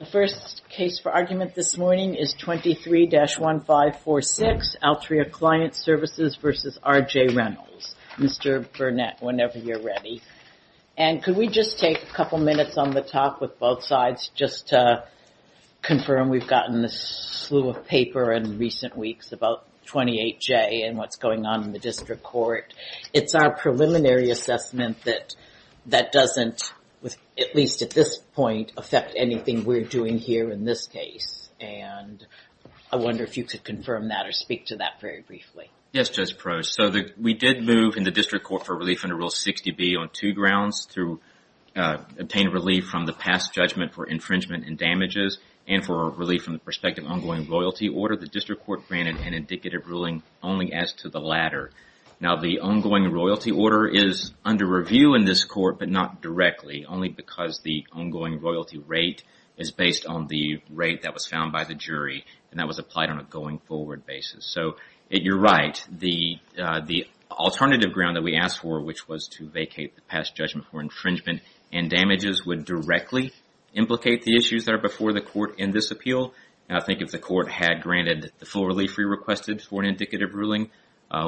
The first case for argument this morning is 23-1546, Altria Client Services v. R.J. Reynolds. Mr. Burnett, whenever you're ready. And could we just take a couple minutes on the top with both sides just to confirm we've gotten this slew of paper in recent weeks about 28J and what's going on in the district court. It's our preliminary assessment that doesn't, at least at this point, affect anything we're doing here in this case. And I wonder if you could confirm that or speak to that very briefly. Yes, Judge Probst. So we did move in the district court for relief under Rule 60B on two grounds to obtain relief from the past judgment for infringement and damages and for relief from the prospective ongoing royalty order. The district court granted an indicative ruling only as to the latter. Now the ongoing royalty order is under review in this but not directly, only because the ongoing royalty rate is based on the rate that was found by the jury and that was applied on a going forward basis. So you're right. The alternative ground that we asked for, which was to vacate the past judgment for infringement and damages, would directly implicate the issues that are before the court in this appeal. I think if the court had granted the full relief we requested for an indicative ruling,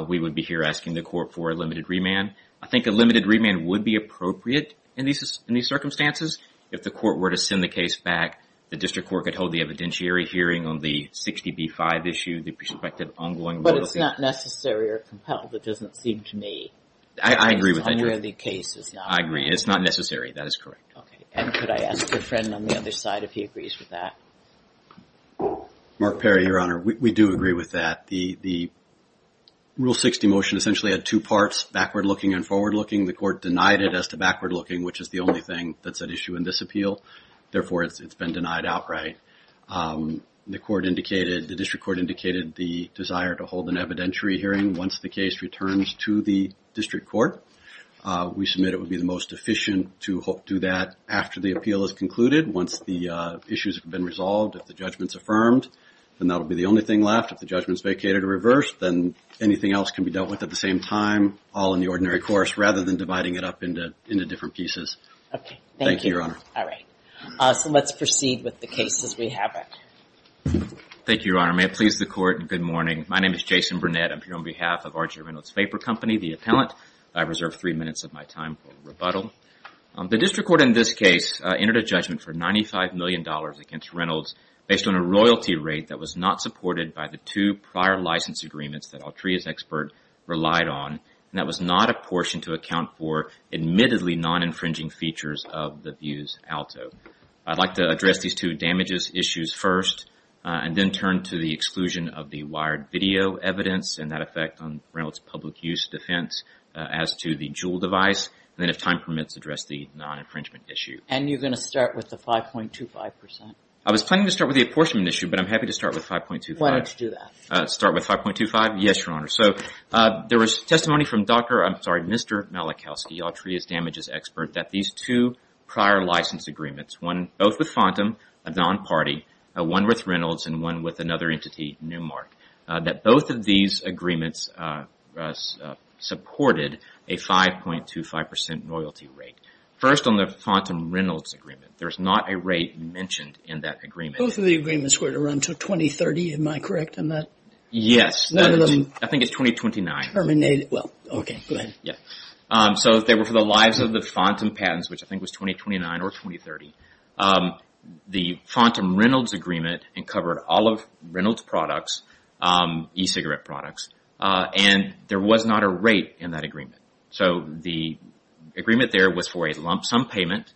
we would be here asking the court for a limited remand. I think a limited remand would be appropriate in these circumstances. If the court were to send the case back, the district court could hold the evidentiary hearing on the 60B-5 issue, the prospective ongoing... But it's not necessary or compelled, it doesn't seem to me. I agree with that, Judge. I agree. It's not necessary, that is correct. Okay. And could I ask your friend on the other side if he agrees with that? Mark Perry, Your Honor. We do agree with that. The Rule 60 motion essentially had two parts, backward looking and forward looking. The court denied it as to backward looking, which is the only thing that's at issue in this appeal. Therefore, it's been denied outright. The district court indicated the desire to hold an evidentiary hearing once the case returns to the district court. We submit it would be the most efficient to do that after the appeal is concluded, once the issues have been resolved, if the judgment's reversed, then anything else can be dealt with at the same time, all in the ordinary course, rather than dividing it up into different pieces. Okay. Thank you, Your Honor. All right. So let's proceed with the case as we have it. Thank you, Your Honor. May it please the court. Good morning. My name is Jason Burnett. I'm here on behalf of Archer Reynolds Vapor Company, the appellant. I reserve three minutes of my time for rebuttal. The district court in this case entered a judgment for $95 million against Reynolds based on a royalty rate that was not supported by the two prior license agreements that Altria's expert relied on, and that was not a portion to account for admittedly non-infringing features of the views alto. I'd like to address these two damages issues first, and then turn to the exclusion of the wired video evidence and that effect on Reynolds' public use defense as to the JUUL device, and then if time permits, address the non-infringement issue. And you're going to start with the 5.25 percent? I was planning to start with the apportionment issue, but I'm happy to start with 5.25. Why don't you start with 5.25? Yes, Your Honor. So there was testimony from Dr. I'm sorry, Mr. Malachowski, Altria's damages expert, that these two prior license agreements, one both with Fontam, a non-party, one with Reynolds, and one with another entity, Newmark, that both of these agreements supported a 5.25 percent royalty rate. First, on the Fontam-Reynolds agreement, there's not a rate mentioned in that agreement. Both of the agreements were to run till 2030, am I correct on that? Yes, I think it's 2029. Well, okay, go ahead. So they were for the lives of the Fontam patents, which I think was 2029 or 2030. The Fontam-Reynolds agreement uncovered all of Reynolds' products, e-cigarette products, and there was not a rate in that agreement. So the agreement there was for a lump sum payment.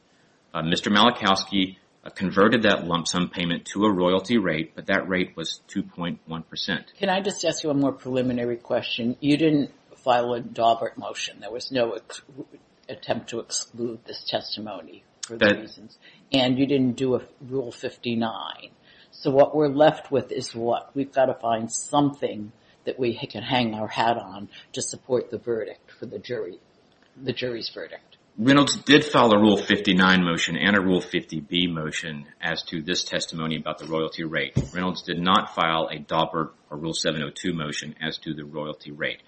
Mr. Malachowski converted that lump sum payment to a 2.1 percent. Can I just ask you a more preliminary question? You didn't file a Daubert motion. There was no attempt to exclude this testimony for the reasons, and you didn't do a Rule 59. So what we're left with is what? We've got to find something that we can hang our hat on to support the verdict for the jury, the jury's verdict. Reynolds did file a Rule 59 motion and a Rule 50B motion as to this testimony about the royalty rate. Reynolds did not file a Daubert or Rule 702 motion as to the royalty rate.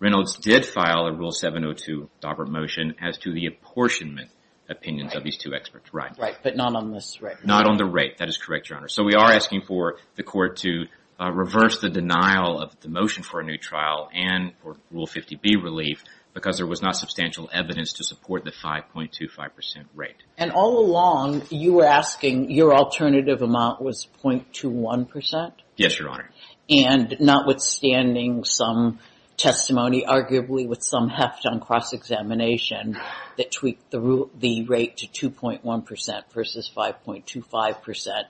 Reynolds did file a Rule 702 Daubert motion as to the apportionment opinions of these two experts. Right, but not on this rate. Not on the rate. That is correct, Your Honor. So we are asking for the court to reverse the denial of the motion for a new trial and for Rule 50B relief because there was not substantial evidence to support the 5.25 percent rate. And all along, you were asking, your alternative amount was 0.21 percent? Yes, Your Honor. And notwithstanding some testimony, arguably with some heft on cross-examination, that tweaked the rate to 2.1 percent versus 5.25 percent.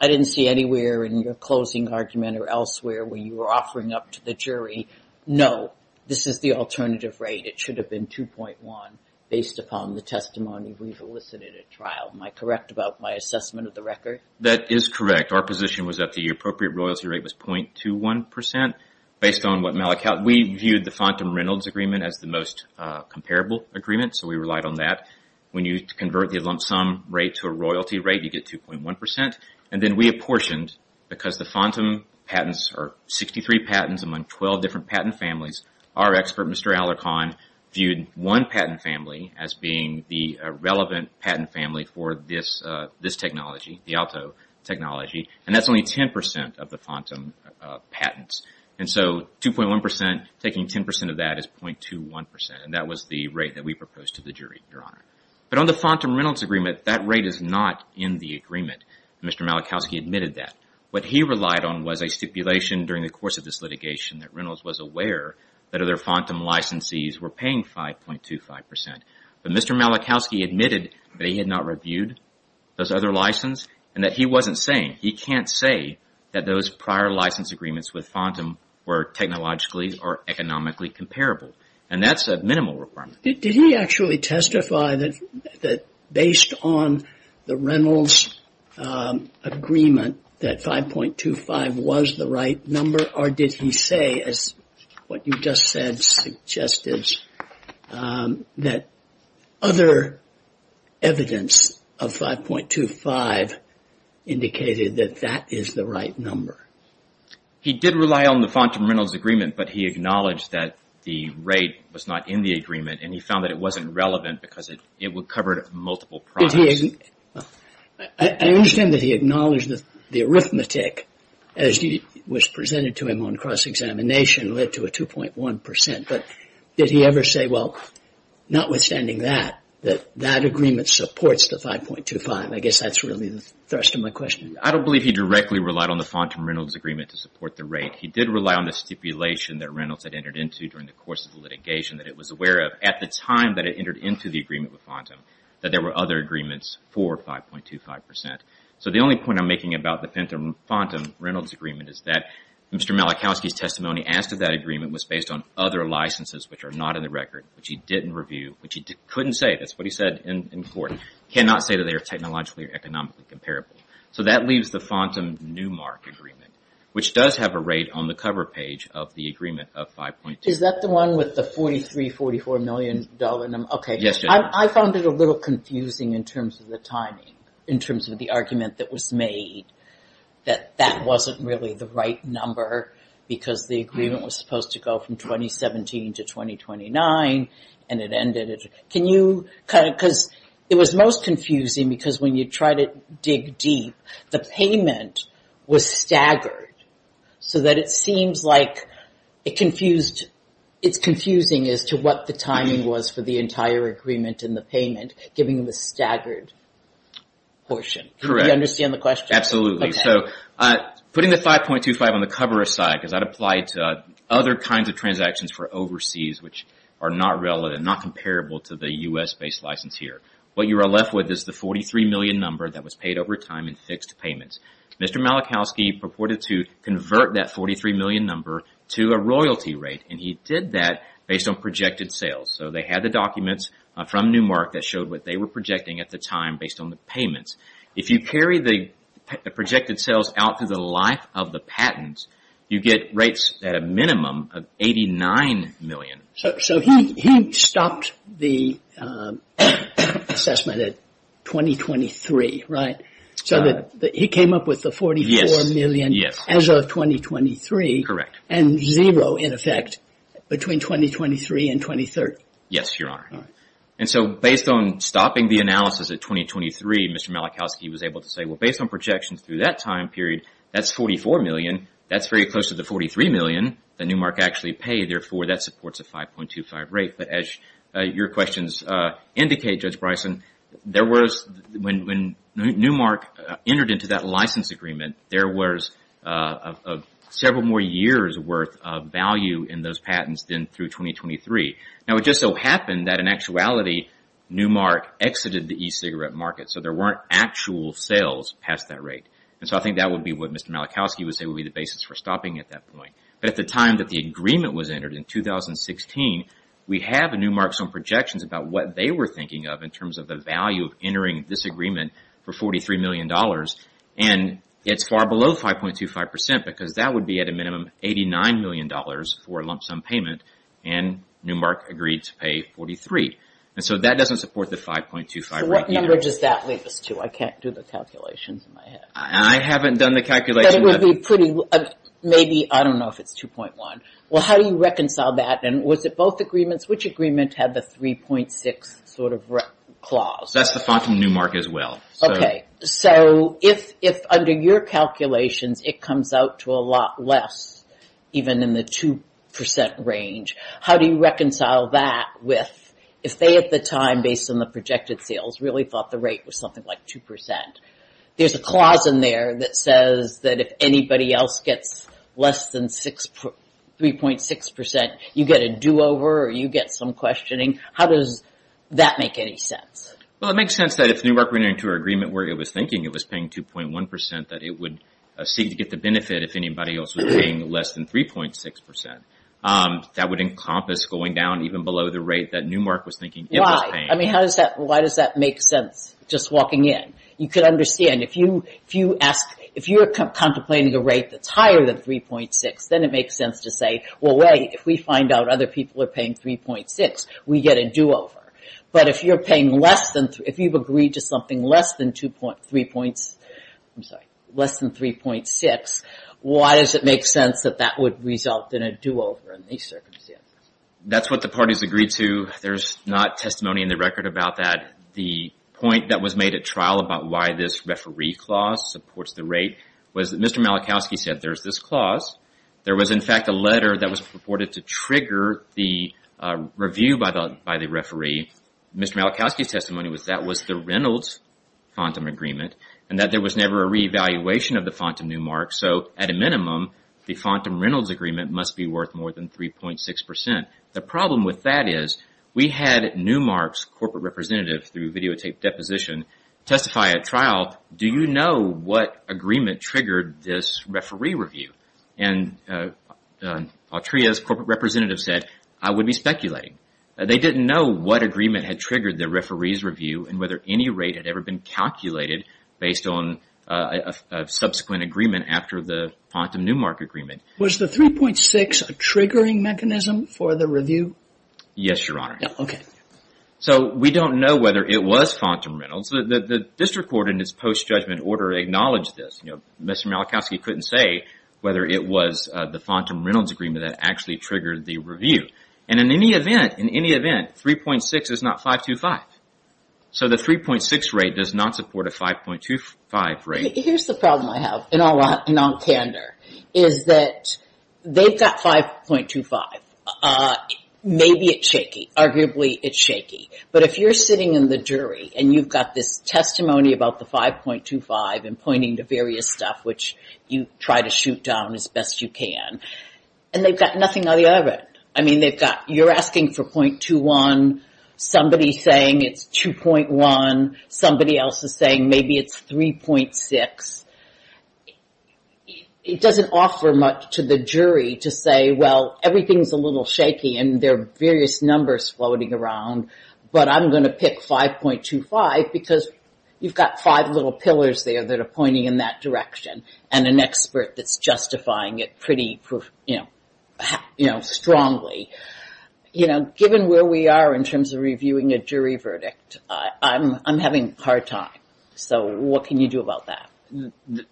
I didn't see anywhere in your closing argument or elsewhere where you were offering up to the jury, no, this is the alternative rate. It should have been 2.1 based upon the testimony we've elicited at trial. Am I correct about my assessment of the record? That is correct. Our position was that the appropriate royalty rate was 0.21 percent based on what Malik held. We viewed the Fontam-Reynolds agreement as the most comparable agreement, so we relied on that. When you convert the lump sum rate to a royalty rate, you get 2.1 percent. And then we apportioned because the Fontam patents are 63 patents among 12 different patent families. Our expert, Mr. Alarcon, viewed one patent family as being the relevant patent family for this technology, the Alto technology, and that's only 10 percent of the Fontam patents. And so 2.1 percent, taking 10 percent of that is 0.21 percent, and that was the rate that we proposed to the jury, Your Honor. But on the Fontam-Reynolds agreement, that rate is not in the agreement. Mr. Malikowski admitted that. What he relied on was a stipulation during the course of this litigation that Reynolds was aware that other Fontam licensees were paying 5.25 percent. But Mr. Malikowski admitted that he had not reviewed those other license and that he wasn't saying. He can't say that those prior license agreements with Fontam were technologically or economically comparable, and that's a minimal requirement. Did he actually testify that based on the Reynolds agreement that 5.25 was the right number, or did he say, as what you just said suggested, that other evidence of 5.25 indicated that that is the right number? He did rely on the Fontam-Reynolds agreement, but he acknowledged that the rate was not in the agreement, and he found that it wasn't relevant because it would cover multiple products. I understand that he acknowledged that the arithmetic, as was presented to him on cross-examination, led to a 2.1 percent, but did he ever say, well, notwithstanding that, that that agreement supports the 5.25? I guess that's really the thrust of my question. I don't believe he directly relied on the Fontam-Reynolds agreement to support the rate. He did rely on the stipulation that Reynolds had entered into during the course of the agreement with Fontam that there were other agreements for 5.25 percent. So the only point I'm making about the Fenton-Fontam-Reynolds agreement is that Mr. Malachowski's testimony asked if that agreement was based on other licenses which are not in the record, which he didn't review, which he couldn't say, that's what he said in court, cannot say that they are technologically or economically comparable. So that leaves the Fontam-Newmark agreement, which does have a rate on the cover page of the agreement of 5.25. Is that the one with the $43, $44 million? Okay. I found it a little confusing in terms of the timing, in terms of the argument that was made that that wasn't really the right number because the agreement was supposed to go from 2017 to 2029 and it ended. Can you kind of, because it was most confusing because when you try to dig deep, the payment was staggered so that it seems like it confused, it's confusing as to what the timing was for the entire agreement and the payment giving the staggered portion. Correct. Do you understand the question? Absolutely. So putting the 5.25 on the cover aside because that applied to other kinds of transactions for overseas which are not relevant, not comparable to the U.S.-based license here, what you are left with is the $43 million number that was paid over time in fixed payments. Mr. Malachowski purported to convert that $43 million number to a royalty rate and he did that based on projected sales. So they had the documents from Newmark that showed what they were projecting at the time based on the payments. If you carry the projected sales out through the life of the patents, you get rates at a minimum of $89 million. So he stopped the assessment at 2023, right? So he came up with $44 million as of 2023 and zero in effect between 2023 and 2023. Yes, Your Honor. And so based on stopping the analysis at 2023, Mr. Malachowski was able to say, well, based on projections through that time period, that's $44 million. That's very close to the $43 million that Newmark actually paid. Therefore, that supports a 5.25 rate. But as your questions indicate, Judge Bryson, there was, when Newmark entered into that license agreement, there was several more years worth of value in those patents than through 2023. Now, it just so happened that in actuality, Newmark exited the e-cigarette market. So there weren't actual sales past that rate. And so I think that would be what Mr. Malachowski would say would be the basis for stopping at that point. But at the time that the agreement was entered in 2016, we have in Newmark some projections about what they were thinking of in terms of the value of entering this agreement for $43 million. And it's far below 5.25% because that would be at a minimum $89 million for a lump sum payment. And Newmark agreed to pay 43. And so that doesn't support the 5.25 rate. So what number does that lead us to? I can't do the calculations in my head. I haven't done the calculation. Maybe, I don't know if it's 2.1. Well, how do you reconcile that? And was it both agreements? Agreement had the 3.6 sort of clause. That's the font in Newmark as well. Okay. So if under your calculations, it comes out to a lot less, even in the 2% range, how do you reconcile that with if they at the time, based on the projected sales, really thought the rate was something like 2%? There's a clause in there that says that if anybody else gets less than 3.6%, you get a do-over or you get some questioning. How does that make any sense? Well, it makes sense that if Newmark went into an agreement where it was thinking it was paying 2.1%, that it would seek to get the benefit if anybody else was paying less than 3.6%. That would encompass going down even below the rate that Newmark was thinking it was paying. I mean, how does that, why does that make sense just walking in? You could understand if you ask, if you're contemplating a rate that's higher than 3.6, then it makes sense to say, well, wait, if we find out other people are paying 3.6, we get a do-over. But if you're paying less than, if you've agreed to something less than 2.3 points, I'm sorry, less than 3.6, why does it make sense that that would result in a do-over in these circumstances? That's what the parties agreed to. There's not testimony in the record about that. The point that was made at trial about why this referee clause supports the rate was that Mr. Malachowski said, there's this clause. There was, in fact, a letter that was purported to trigger the review by the referee. Mr. Malachowski's testimony was that was the Reynolds FONTM agreement, and that there was never a re-evaluation of the FONTM Newmark. So at a minimum, the FONTM Reynolds agreement must be worth more than 3.6%. The problem with that is we had Newmark's corporate representative, through videotaped deposition, testify at trial, do you know what agreement triggered this referee review? And Altria's corporate representative said, I would be speculating. They didn't know what agreement had triggered the referee's review and whether any rate had ever been calculated based on a subsequent agreement after the FONTM Newmark agreement. Was the 3.6% a triggering mechanism for the review? Yes, Your Honor. So we don't know whether it was FONTM Reynolds. The district court in its post-judgment order acknowledged this. Mr. Malachowski couldn't say whether it was the FONTM Reynolds agreement that actually triggered the review. And in any event, 3.6% is not 5.25%. So the 3.6% rate does not support a 5.25% rate. Here's the problem I have, in all candor, is that they've got 5.25%. Maybe it's shaky. Arguably, it's shaky. But if you're sitting in the jury, and you've got this testimony about the 5.25% and pointing to various stuff, which you try to shoot down as best you can, and they've got nothing on the other end. I mean, they've got, you're asking for 0.21%. Somebody's saying it's 2.1%. Somebody else is saying maybe it's 3.6%. It doesn't offer much to the jury to say, well, everything's a little shaky, and there are various numbers floating around, but I'm going to pick 5.25% because you've got five little pillars there that are pointing in that direction, and an expert that's justifying it pretty strongly. Given where we are in terms of reviewing a jury verdict, I'm having a hard time. So what can you do about that?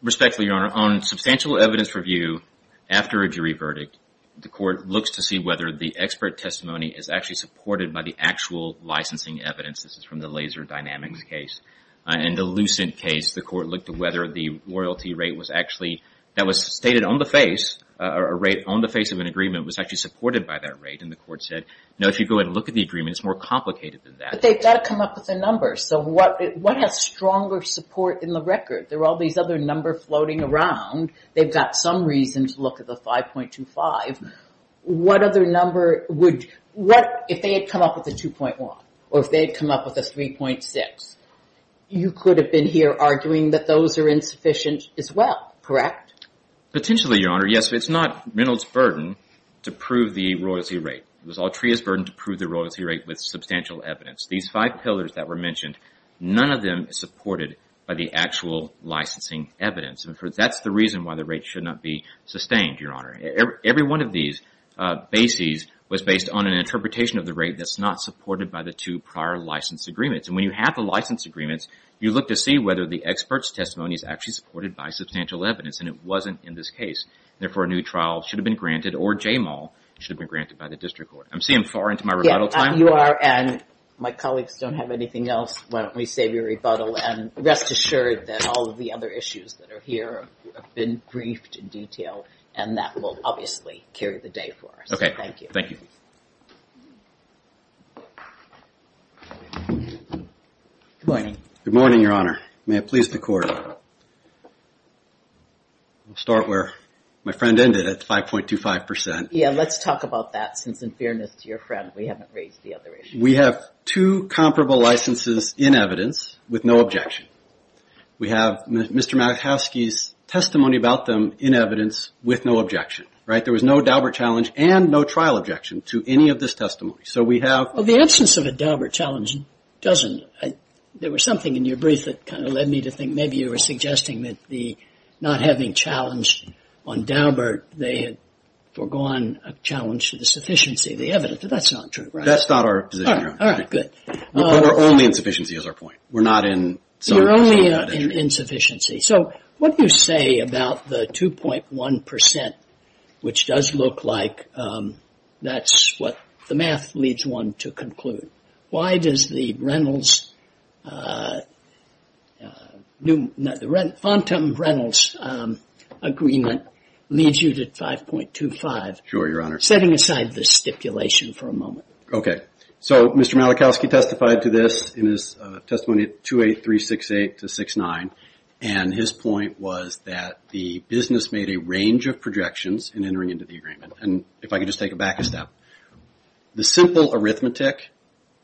Respectfully, Your Honor, on substantial evidence review after a jury verdict, the court looks to see whether the expert testimony is actually supported by the actual licensing evidence. This is from the Laser Dynamics case. In the Lucent case, the court looked at whether the royalty rate was actually, that was stated on the face, a rate on the face of an agreement was actually supported by that rate, and the court said, no, if you go ahead and look at the agreement, it's more complicated than that. But they've got to come up with a number. So what has stronger support in the record? There are all these other numbers floating around. They've got some reason to look at the 5.25. What other number would, if they had come up with a 2.1, or if they had come up with a 3.6, you could have been here arguing that those are insufficient as well, correct? Potentially, Your Honor. Yes, but it's not Reynolds' burden to prove the royalty rate. It was Altria's burden to prove the royalty rate with substantial evidence. These five pillars that were mentioned, none of them is supported by the actual licensing evidence. And that's the reason why the rate should not be sustained, Your Honor. Every one of these bases was based on an interpretation of the rate that's not supported by the two prior license agreements. And when you have the license agreements, you look to see whether the expert's testimony is actually supported by substantial evidence, and it wasn't in this case. Therefore, a new trial should have been granted, or JMAL should have been granted by the district court. I'm seeing far into my rebuttal time. You are, and my colleagues don't have anything else. Why don't we save your rebuttal and rest assured that all of the other issues that are here have been briefed in detail, and that will obviously carry the day for us. Okay, thank you. Thank you. Good morning. Good morning, Your Honor. May it please the court. We'll start where my friend ended at 5.25%. Yeah, let's talk about that, since in fairness to your friend, we haven't raised the other issue. We have two comparable licenses in evidence, with no objection. We have Mr. Malachowski's testimony about them in evidence, with no objection, right? There was no Daubert challenge and no trial objection to any of this testimony. So we have... Well, the absence of a Daubert challenge doesn't... There was something in your brief that kind of led me to think maybe you were suggesting that not having challenged on Daubert, they had foregone a challenge to the sufficiency of the evidence, but that's not true, right? That's not our position. All right, good. But our only insufficiency is our point. We're not in some... You're only in insufficiency. So what do you say about the 2.1%, which does look like that's what the math leads one to conclude. Why does the Reynolds... Fontham-Reynolds agreement leads you to 5.25%. Sure, Your Honor. Setting aside the stipulation for a moment. Okay. So Mr. Malachowski testified to this in his testimony at 28368-69. And his point was that the business made a range of projections in entering into the agreement. And if I could just take a back step. The simple arithmetic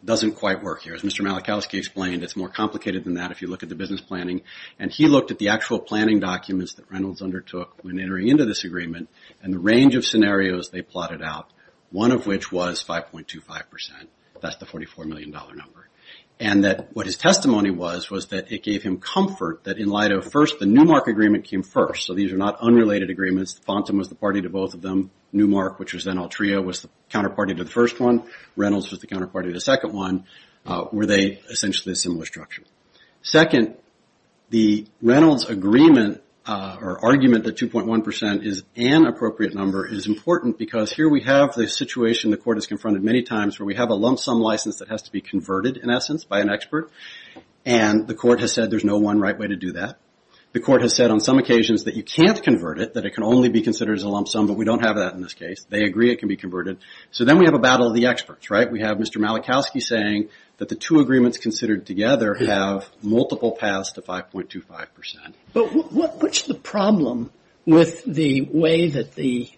doesn't quite work here. As Mr. Malachowski explained, it's more complicated than that if you look at the business planning. And he looked at the actual planning documents that Reynolds undertook when entering into this agreement and the range of scenarios they plotted out, one of which was 5.25%. That's the $44 million number. And that what his testimony was, was that it gave him comfort that in light of first, the Newmark agreement came first. So these are not unrelated agreements. Fontham was the party to both of them. Newmark, which was then Altria, was the counterparty to the first one. Reynolds was the counterparty to the second one. Were they essentially a similar structure. Second, the Reynolds agreement or argument that 2.1% is an appropriate number is important because here we have the situation the court has confronted many times where we have a lump sum license that has to be converted in essence by an expert. And the court has said there's no one right way to do that. The court has said on some occasions that you can't convert it, that it can only be considered as a lump sum, but we don't have that in this case. They agree it can be converted. So then we have a battle of the experts, right? We have Mr. Malachowski saying that the two agreements considered together have multiple paths to 5.25%. But what's the problem with the way that the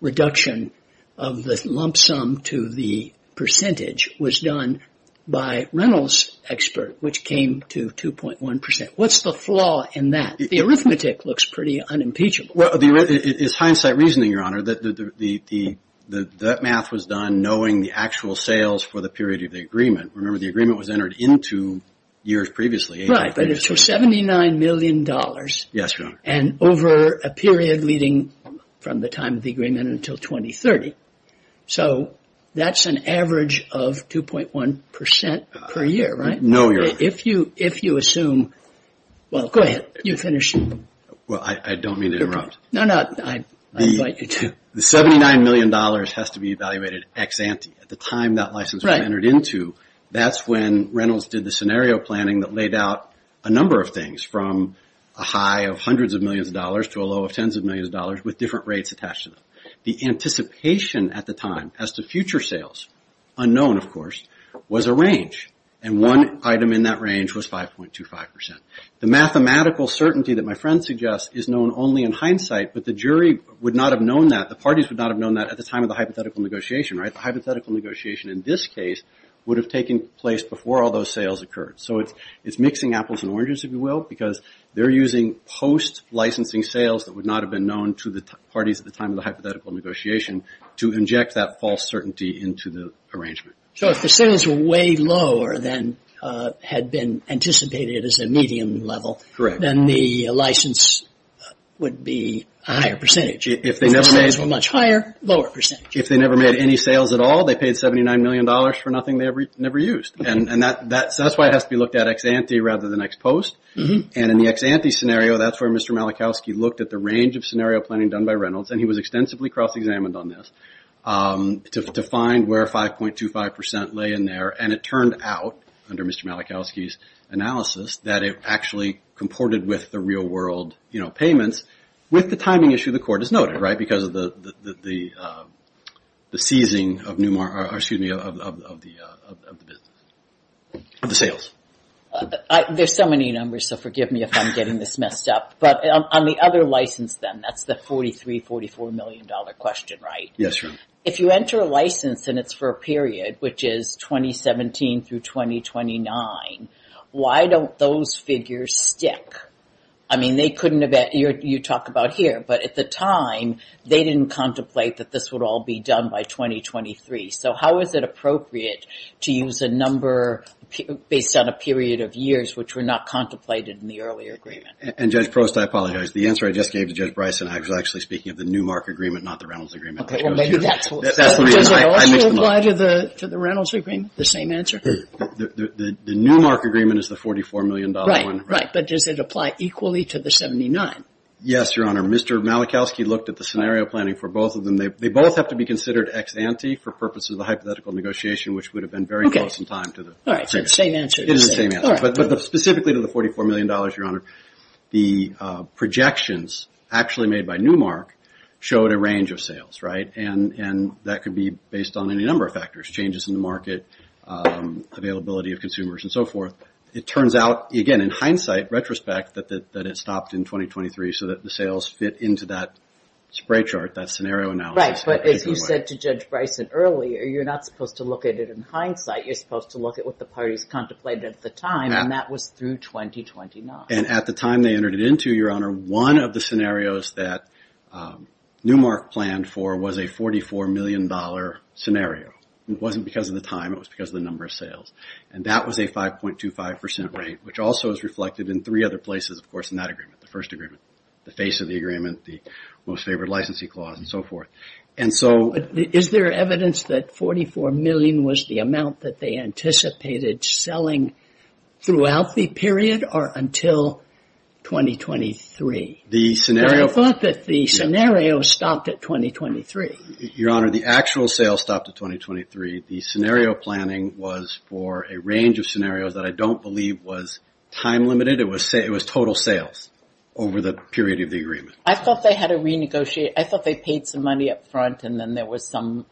reduction of the lump sum to the percentage was done by Reynolds' expert, which came to 2.1%? What's the flaw in that? The arithmetic looks pretty unimpeachable. Well, it's hindsight reasoning, Your Honor, that that math was done knowing the actual sales for the period of the agreement. Remember, the agreement was entered into years previously. Right, but it's for $79 million. Yes, Your Honor. And over a period leading from the time of the agreement until 2030. So that's an average of 2.1% per year, right? No, Your Honor. If you assume... Well, go ahead, you finish. Well, I don't mean to interrupt. No, no, I invite you to. The $79 million has to be evaluated ex-ante. At the time that license was entered into, that's when Reynolds did the scenario planning that laid out a number of things from a high of hundreds of millions of dollars to a low of tens of millions of dollars with different rates attached to them. The anticipation at the time as to future sales, unknown, of course, was a range. And one item in that range was 5.25%. The mathematical certainty that my friend suggests is known only in hindsight, but the jury would not have known that, the parties would not have known that at the time of the hypothetical negotiation, right? The hypothetical negotiation in this case would have taken place before all those sales occurred. So it's mixing apples and oranges, if you will, because they're using post-licensing sales that would not have been known to the parties at the time of the hypothetical negotiation to inject that false certainty into the arrangement. So if the sales were way lower than had been anticipated as a medium level, then the license would be a higher percentage. If the sales were much higher, lower percentage. If they never made any sales at all, they paid $79 million for nothing they ever used. And that's why it has to be looked at ex-ante rather than ex-post. And in the ex-ante scenario, that's where Mr. Malachowski looked at the range of scenario planning done by Reynolds, and he was extensively cross-examined on this, to find where 5.25% lay in there. And it turned out under Mr. Malachowski's analysis that it actually comported with the real world payments with the timing issue the court has noted, right? Because of the seizing of the sales. There's so many numbers, so forgive me if I'm getting this messed up. But on the other license then, that's the $43, $44 million question, right? Yes, ma'am. If you enter a license and it's for a period, which is 2017 through 2029, why don't those figures stick? I mean, they couldn't have, you talk about here, but at the time they didn't contemplate that this would all be done by 2023. So how is it appropriate to use a number based on a period of years, which were not contemplated in the earlier agreement? And Judge Prost, I apologize. The answer I just gave to Judge Bryson, I was actually speaking of the Newmark agreement, not the Reynolds agreement. Okay, well maybe that's what... Does it also apply to the Reynolds agreement, the same answer? The Newmark agreement is the $44 million one. Right, but does it apply equally to the 79? Yes, Your Honor. Mr. Malachowski looked at the scenario planning for both of them. They both have to be considered ex-ante for purposes of a hypothetical negotiation, which would have been very close in time to the... All right, so it's the same answer. It is the same answer. But specifically to the $44 million, Your Honor, the projections actually made by Newmark showed a range of sales, right? And that could be based on any number of factors, changes in the market, availability of consumers and so forth. It turns out, again, in hindsight, retrospect that it stopped in 2023 so that the sales fit into that spray chart, that scenario analysis. Right, but as you said to Judge Bryson earlier, you're not supposed to look at it in hindsight. You're supposed to look at what the parties contemplated at the time, and that was through 2029. And at the time they entered it into, Your Honor, one of the scenarios that Newmark planned for was a $44 million scenario. It wasn't because of the time, it was because of the number of sales. And that was a 5.25% rate, which also is reflected in three other places, of course, in that agreement, the first agreement, the face of the agreement, the most favored licensee clause and so forth. And so... Is there evidence that $44 million was the amount that they anticipated selling throughout the period or until 2023? The scenario... I thought that the scenario stopped at 2023. Your Honor, the actual sales stopped at 2023. The scenario planning was for a range of scenarios that I don't believe was time-limited. It was total sales over the period of the agreement. I thought they had to renegotiate. I thought they paid some money up front and then there was some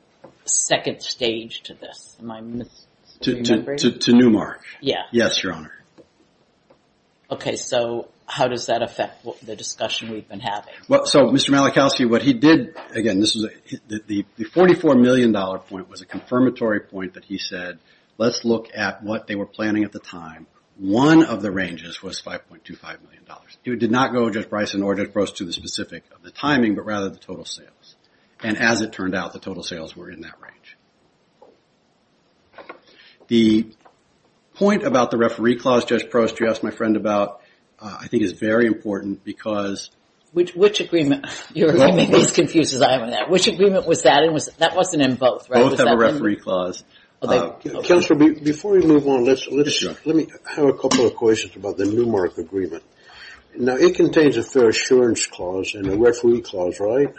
second stage to this. Am I misremembering? To Newmark. Yeah. Yes, Your Honor. Okay, so how does that affect the discussion we've been having? Well, so Mr. Malachowski, what he did... Again, the $44 million point was a confirmatory point that he said, let's look at what they were planning at the time. One of the ranges was $5.25 million. He did not go, Judge Bryson, or Judge Gross to the specific of the timing, but rather the total sales. And as it turned out, the total sales were in that range. The point about the referee clause, Judge Prost, you asked my friend about, I think is very important because... Which agreement? You're making me as confused as I am on that. Which agreement was that in? That wasn't in both, right? Both have a referee clause. Counselor, before we move on, let me have a couple of questions about the Newmark agreement. Now, it contains a fair assurance clause and a referee clause, right?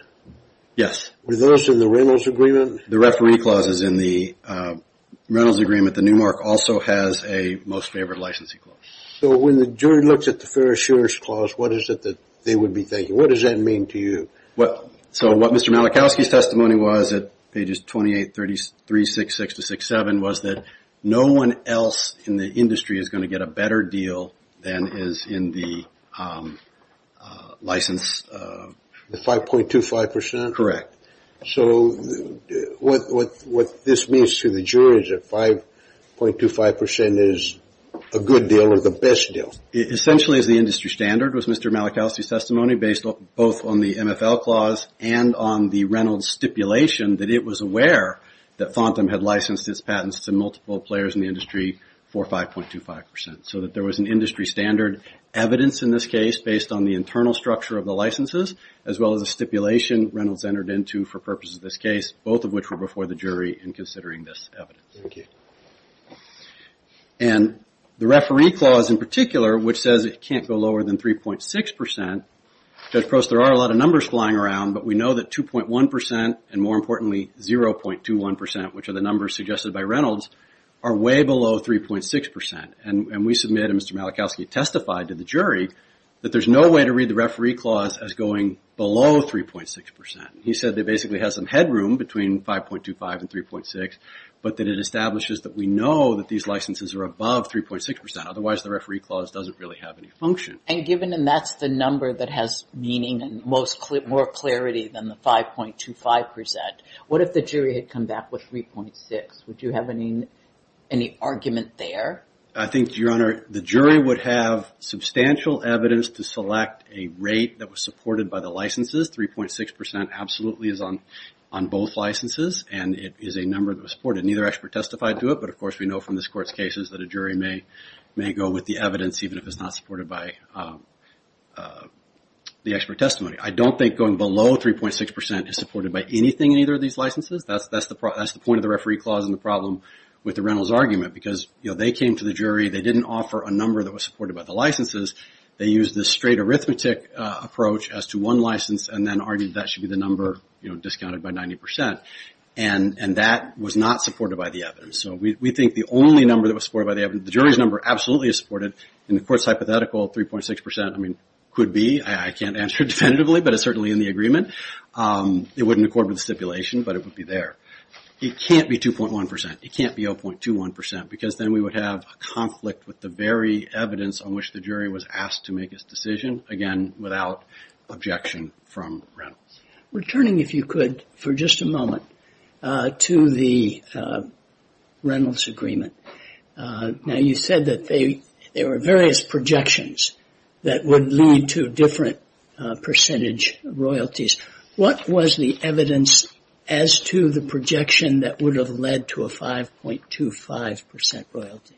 Yes. Were those in the Reynolds agreement? The referee clause is in the Reynolds agreement. The Newmark also has a most favored licensing clause. So when the jury looks at the fair assurance clause, what is it that they would be thinking? What does that mean to you? So what Mr. Malachowski's testimony was at pages 28, 33, 66 to 67, was that no one else in the industry is going to get a better deal than is in the license... The 5.25%? Correct. So what this means to the jury is that 5.25% is a good deal or the best deal? Essentially, as the industry standard was Mr. Malachowski's testimony based both on the MFL clause and on the Reynolds stipulation that it was aware that FONTAM had licensed its patents to multiple players in the industry for 5.25%. So that there was an industry standard evidence in this case based on the internal structure of the licenses as well as the stipulation Reynolds entered into for purposes of this case, both of which were before the jury in considering this evidence. And the referee clause in particular, which says it can't go lower than 3.6%, Judge Prost, there are a lot of numbers flying around, but we know that 2.1% and more importantly 0.21%, which are the numbers suggested by Reynolds, are way below 3.6%. And we submit and Mr. Malachowski testified to the jury that there's no way to read the referee clause as going below 3.6%. He said that basically has some headroom between 5.25 and 3.6, but that it establishes that we know that these licenses are above 3.6%, otherwise the referee clause doesn't really have any function. And given, and that's the number that has meaning and more clarity than the 5.25%, what if the jury had come back with 3.6? Would you have any argument there? I think, Your Honor, the jury would have substantial evidence to select a rate that was supported by the licenses. 3.6% absolutely is on both licenses and it is a number that was supported. Neither expert testified to it, but of course we know from this court's cases that a jury may go with the evidence even if it's not supported by the expert testimony. I don't think going below 3.6% is supported by anything in either of these licenses. That's the point of the referee clause and the problem with the Reynolds argument because they came to the jury, they didn't offer a number that was supported by the licenses. They used the straight arithmetic approach as to one license and then argued that should be the number discounted by 90%. And that was not supported by the evidence. So we think the only number that was supported by the evidence, the jury's number absolutely is supported. In the court's hypothetical, 3.6% could be. I can't answer definitively, but it's certainly in the agreement. It wouldn't accord with the stipulation, but it would be there. It can't be 2.1%. It can't be 0.21% because then we would have a conflict with the very evidence on which the jury was asked to make its decision. Again, without objection from Reynolds. Returning, if you could, for just a moment to the Reynolds agreement. Now you said that there were various projections that would lead to different percentage royalties. What was the evidence as to the projection that would have led to a 5.25% royalty?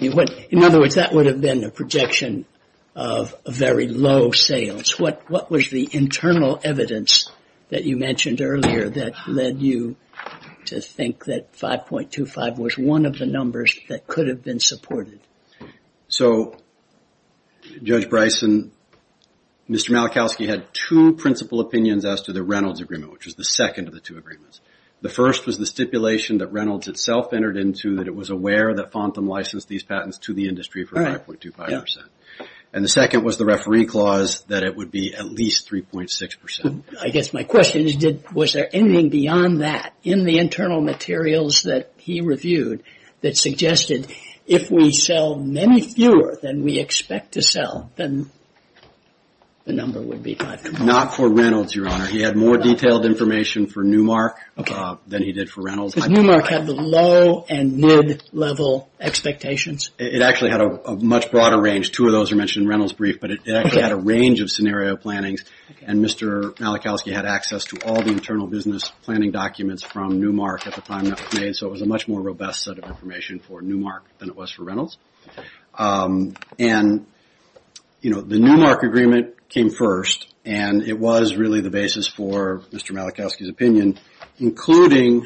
In other words, that would have been a projection of very low sales. What was the internal evidence that you mentioned earlier that led you to think that 5.25% was one of the numbers that could have been supported? So Judge Bryson, Mr. Malachowski had two principal opinions as to the Reynolds agreement, which was the second of the two agreements. The first was the stipulation that Reynolds itself entered into that it was aware that Fontham licensed these patents to the industry for 5.25%. And the second was the referee clause that it would be at least 3.6%. I guess my question is, was there anything beyond that in the internal materials that he reviewed that suggested if we sell many fewer than we expect to sell, then the number would be 5.25%. Not for Reynolds, Your Honor. He had more detailed information for Newmark than he did for Reynolds. Newmark had the low and mid-level expectations. It actually had a much broader range. Two of those are mentioned in Reynolds' brief, but it actually had a range of scenario plannings. And Mr. Malachowski had access to all the internal business planning documents from Newmark at the time that was made. So it was a much more robust set of information for Newmark than it was for Reynolds. And, you know, the Newmark agreement came first and it was really the basis for Mr. Malachowski's opinion, including,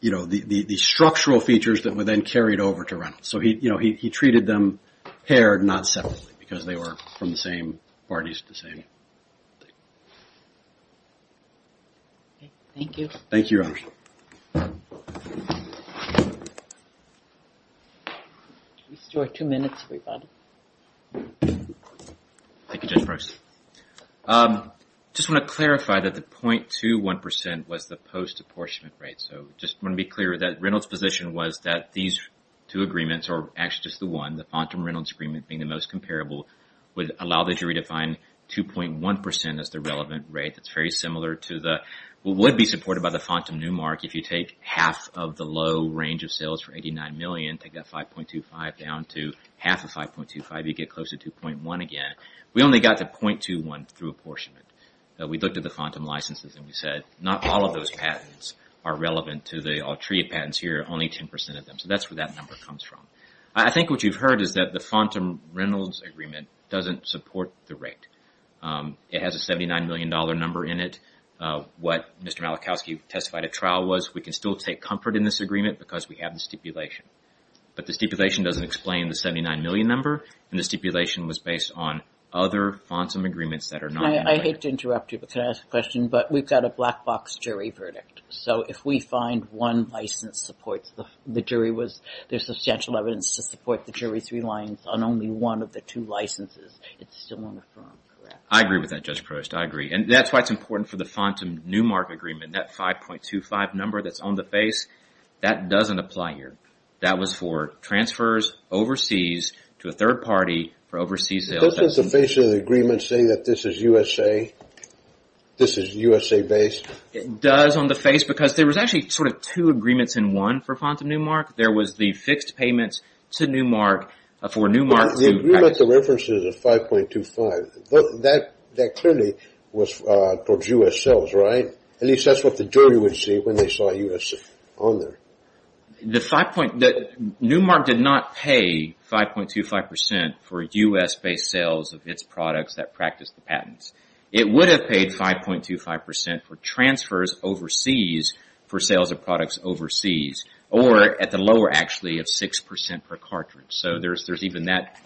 you know, the structural features that were then carried over to Reynolds. So, you know, he treated them paired, not separately, because they were from the same parties, the same thing. Okay, thank you. Thank you, Your Honor. We still have two minutes, everybody. Thank you, Judge Price. I just want to clarify that the 0.21% was the post-apportionment rate. So just want to be clear that Reynolds' position was that these two agreements, or actually just the one, the Fontam-Reynolds agreement being the most comparable, would allow the jury to find 2.1% as the relevant rate. That's very similar to what would be supported by the Fontam-Newmark if you take half of the low range of sales for $89 million, take that 5.25 down to half of 5.25, you get close to 2.1 again. We only got the 0.21 through apportionment. We looked at the Fontam licenses and we said not all of those patents are relevant to the Altria patents here, only 10% of them. So that's where that number comes from. I think what you've heard is that the Fontam-Reynolds agreement doesn't support the rate. It has a $79 million number in it. What Mr. Malachowski testified at trial was we can still take comfort in this agreement because we have the stipulation. But the stipulation doesn't explain the $79 million number and the stipulation was based on other Fontam agreements that are not in play. I hate to interrupt you, but can I ask a question? But we've got a black box jury verdict. So if we find one license supports, the jury was, there's substantial evidence to support the jury three lines on only one of the two licenses. It's still on the firm, correct? I agree with that, Judge Prost. I agree. And that's why it's important for the Fontam-Newmark agreement. That 5.25 number that's on the face, that doesn't apply here. That was for transfers overseas to a third party for overseas sales. Doesn't the base of the agreement say that this is USA? This is USA based? It does on the face because there was actually sort of two agreements in one for Fontam-Newmark. There was the fixed payments to Newmark for Newmark. The agreement, the reference is a 5.25. That clearly was for US sales, right? At least that's what the jury would see when they saw US on there. The 5.25, Newmark did not pay 5.25% for US based sales of its products that practiced the patents. It would have paid 5.25% for transfers overseas for sales of products overseas or at the lower actually of 6% per cartridge. So there's even that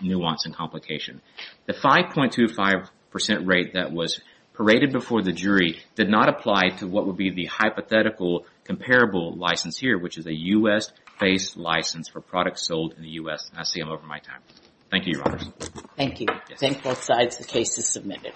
nuance and complication. The 5.25% rate that was paraded before the jury did not apply to what would be the hypothetical comparable license here, which is a US based license for products sold in the US. I see I'm over my time. Thank you, Your Honors. Thank you. Thank both sides. The case is submitted.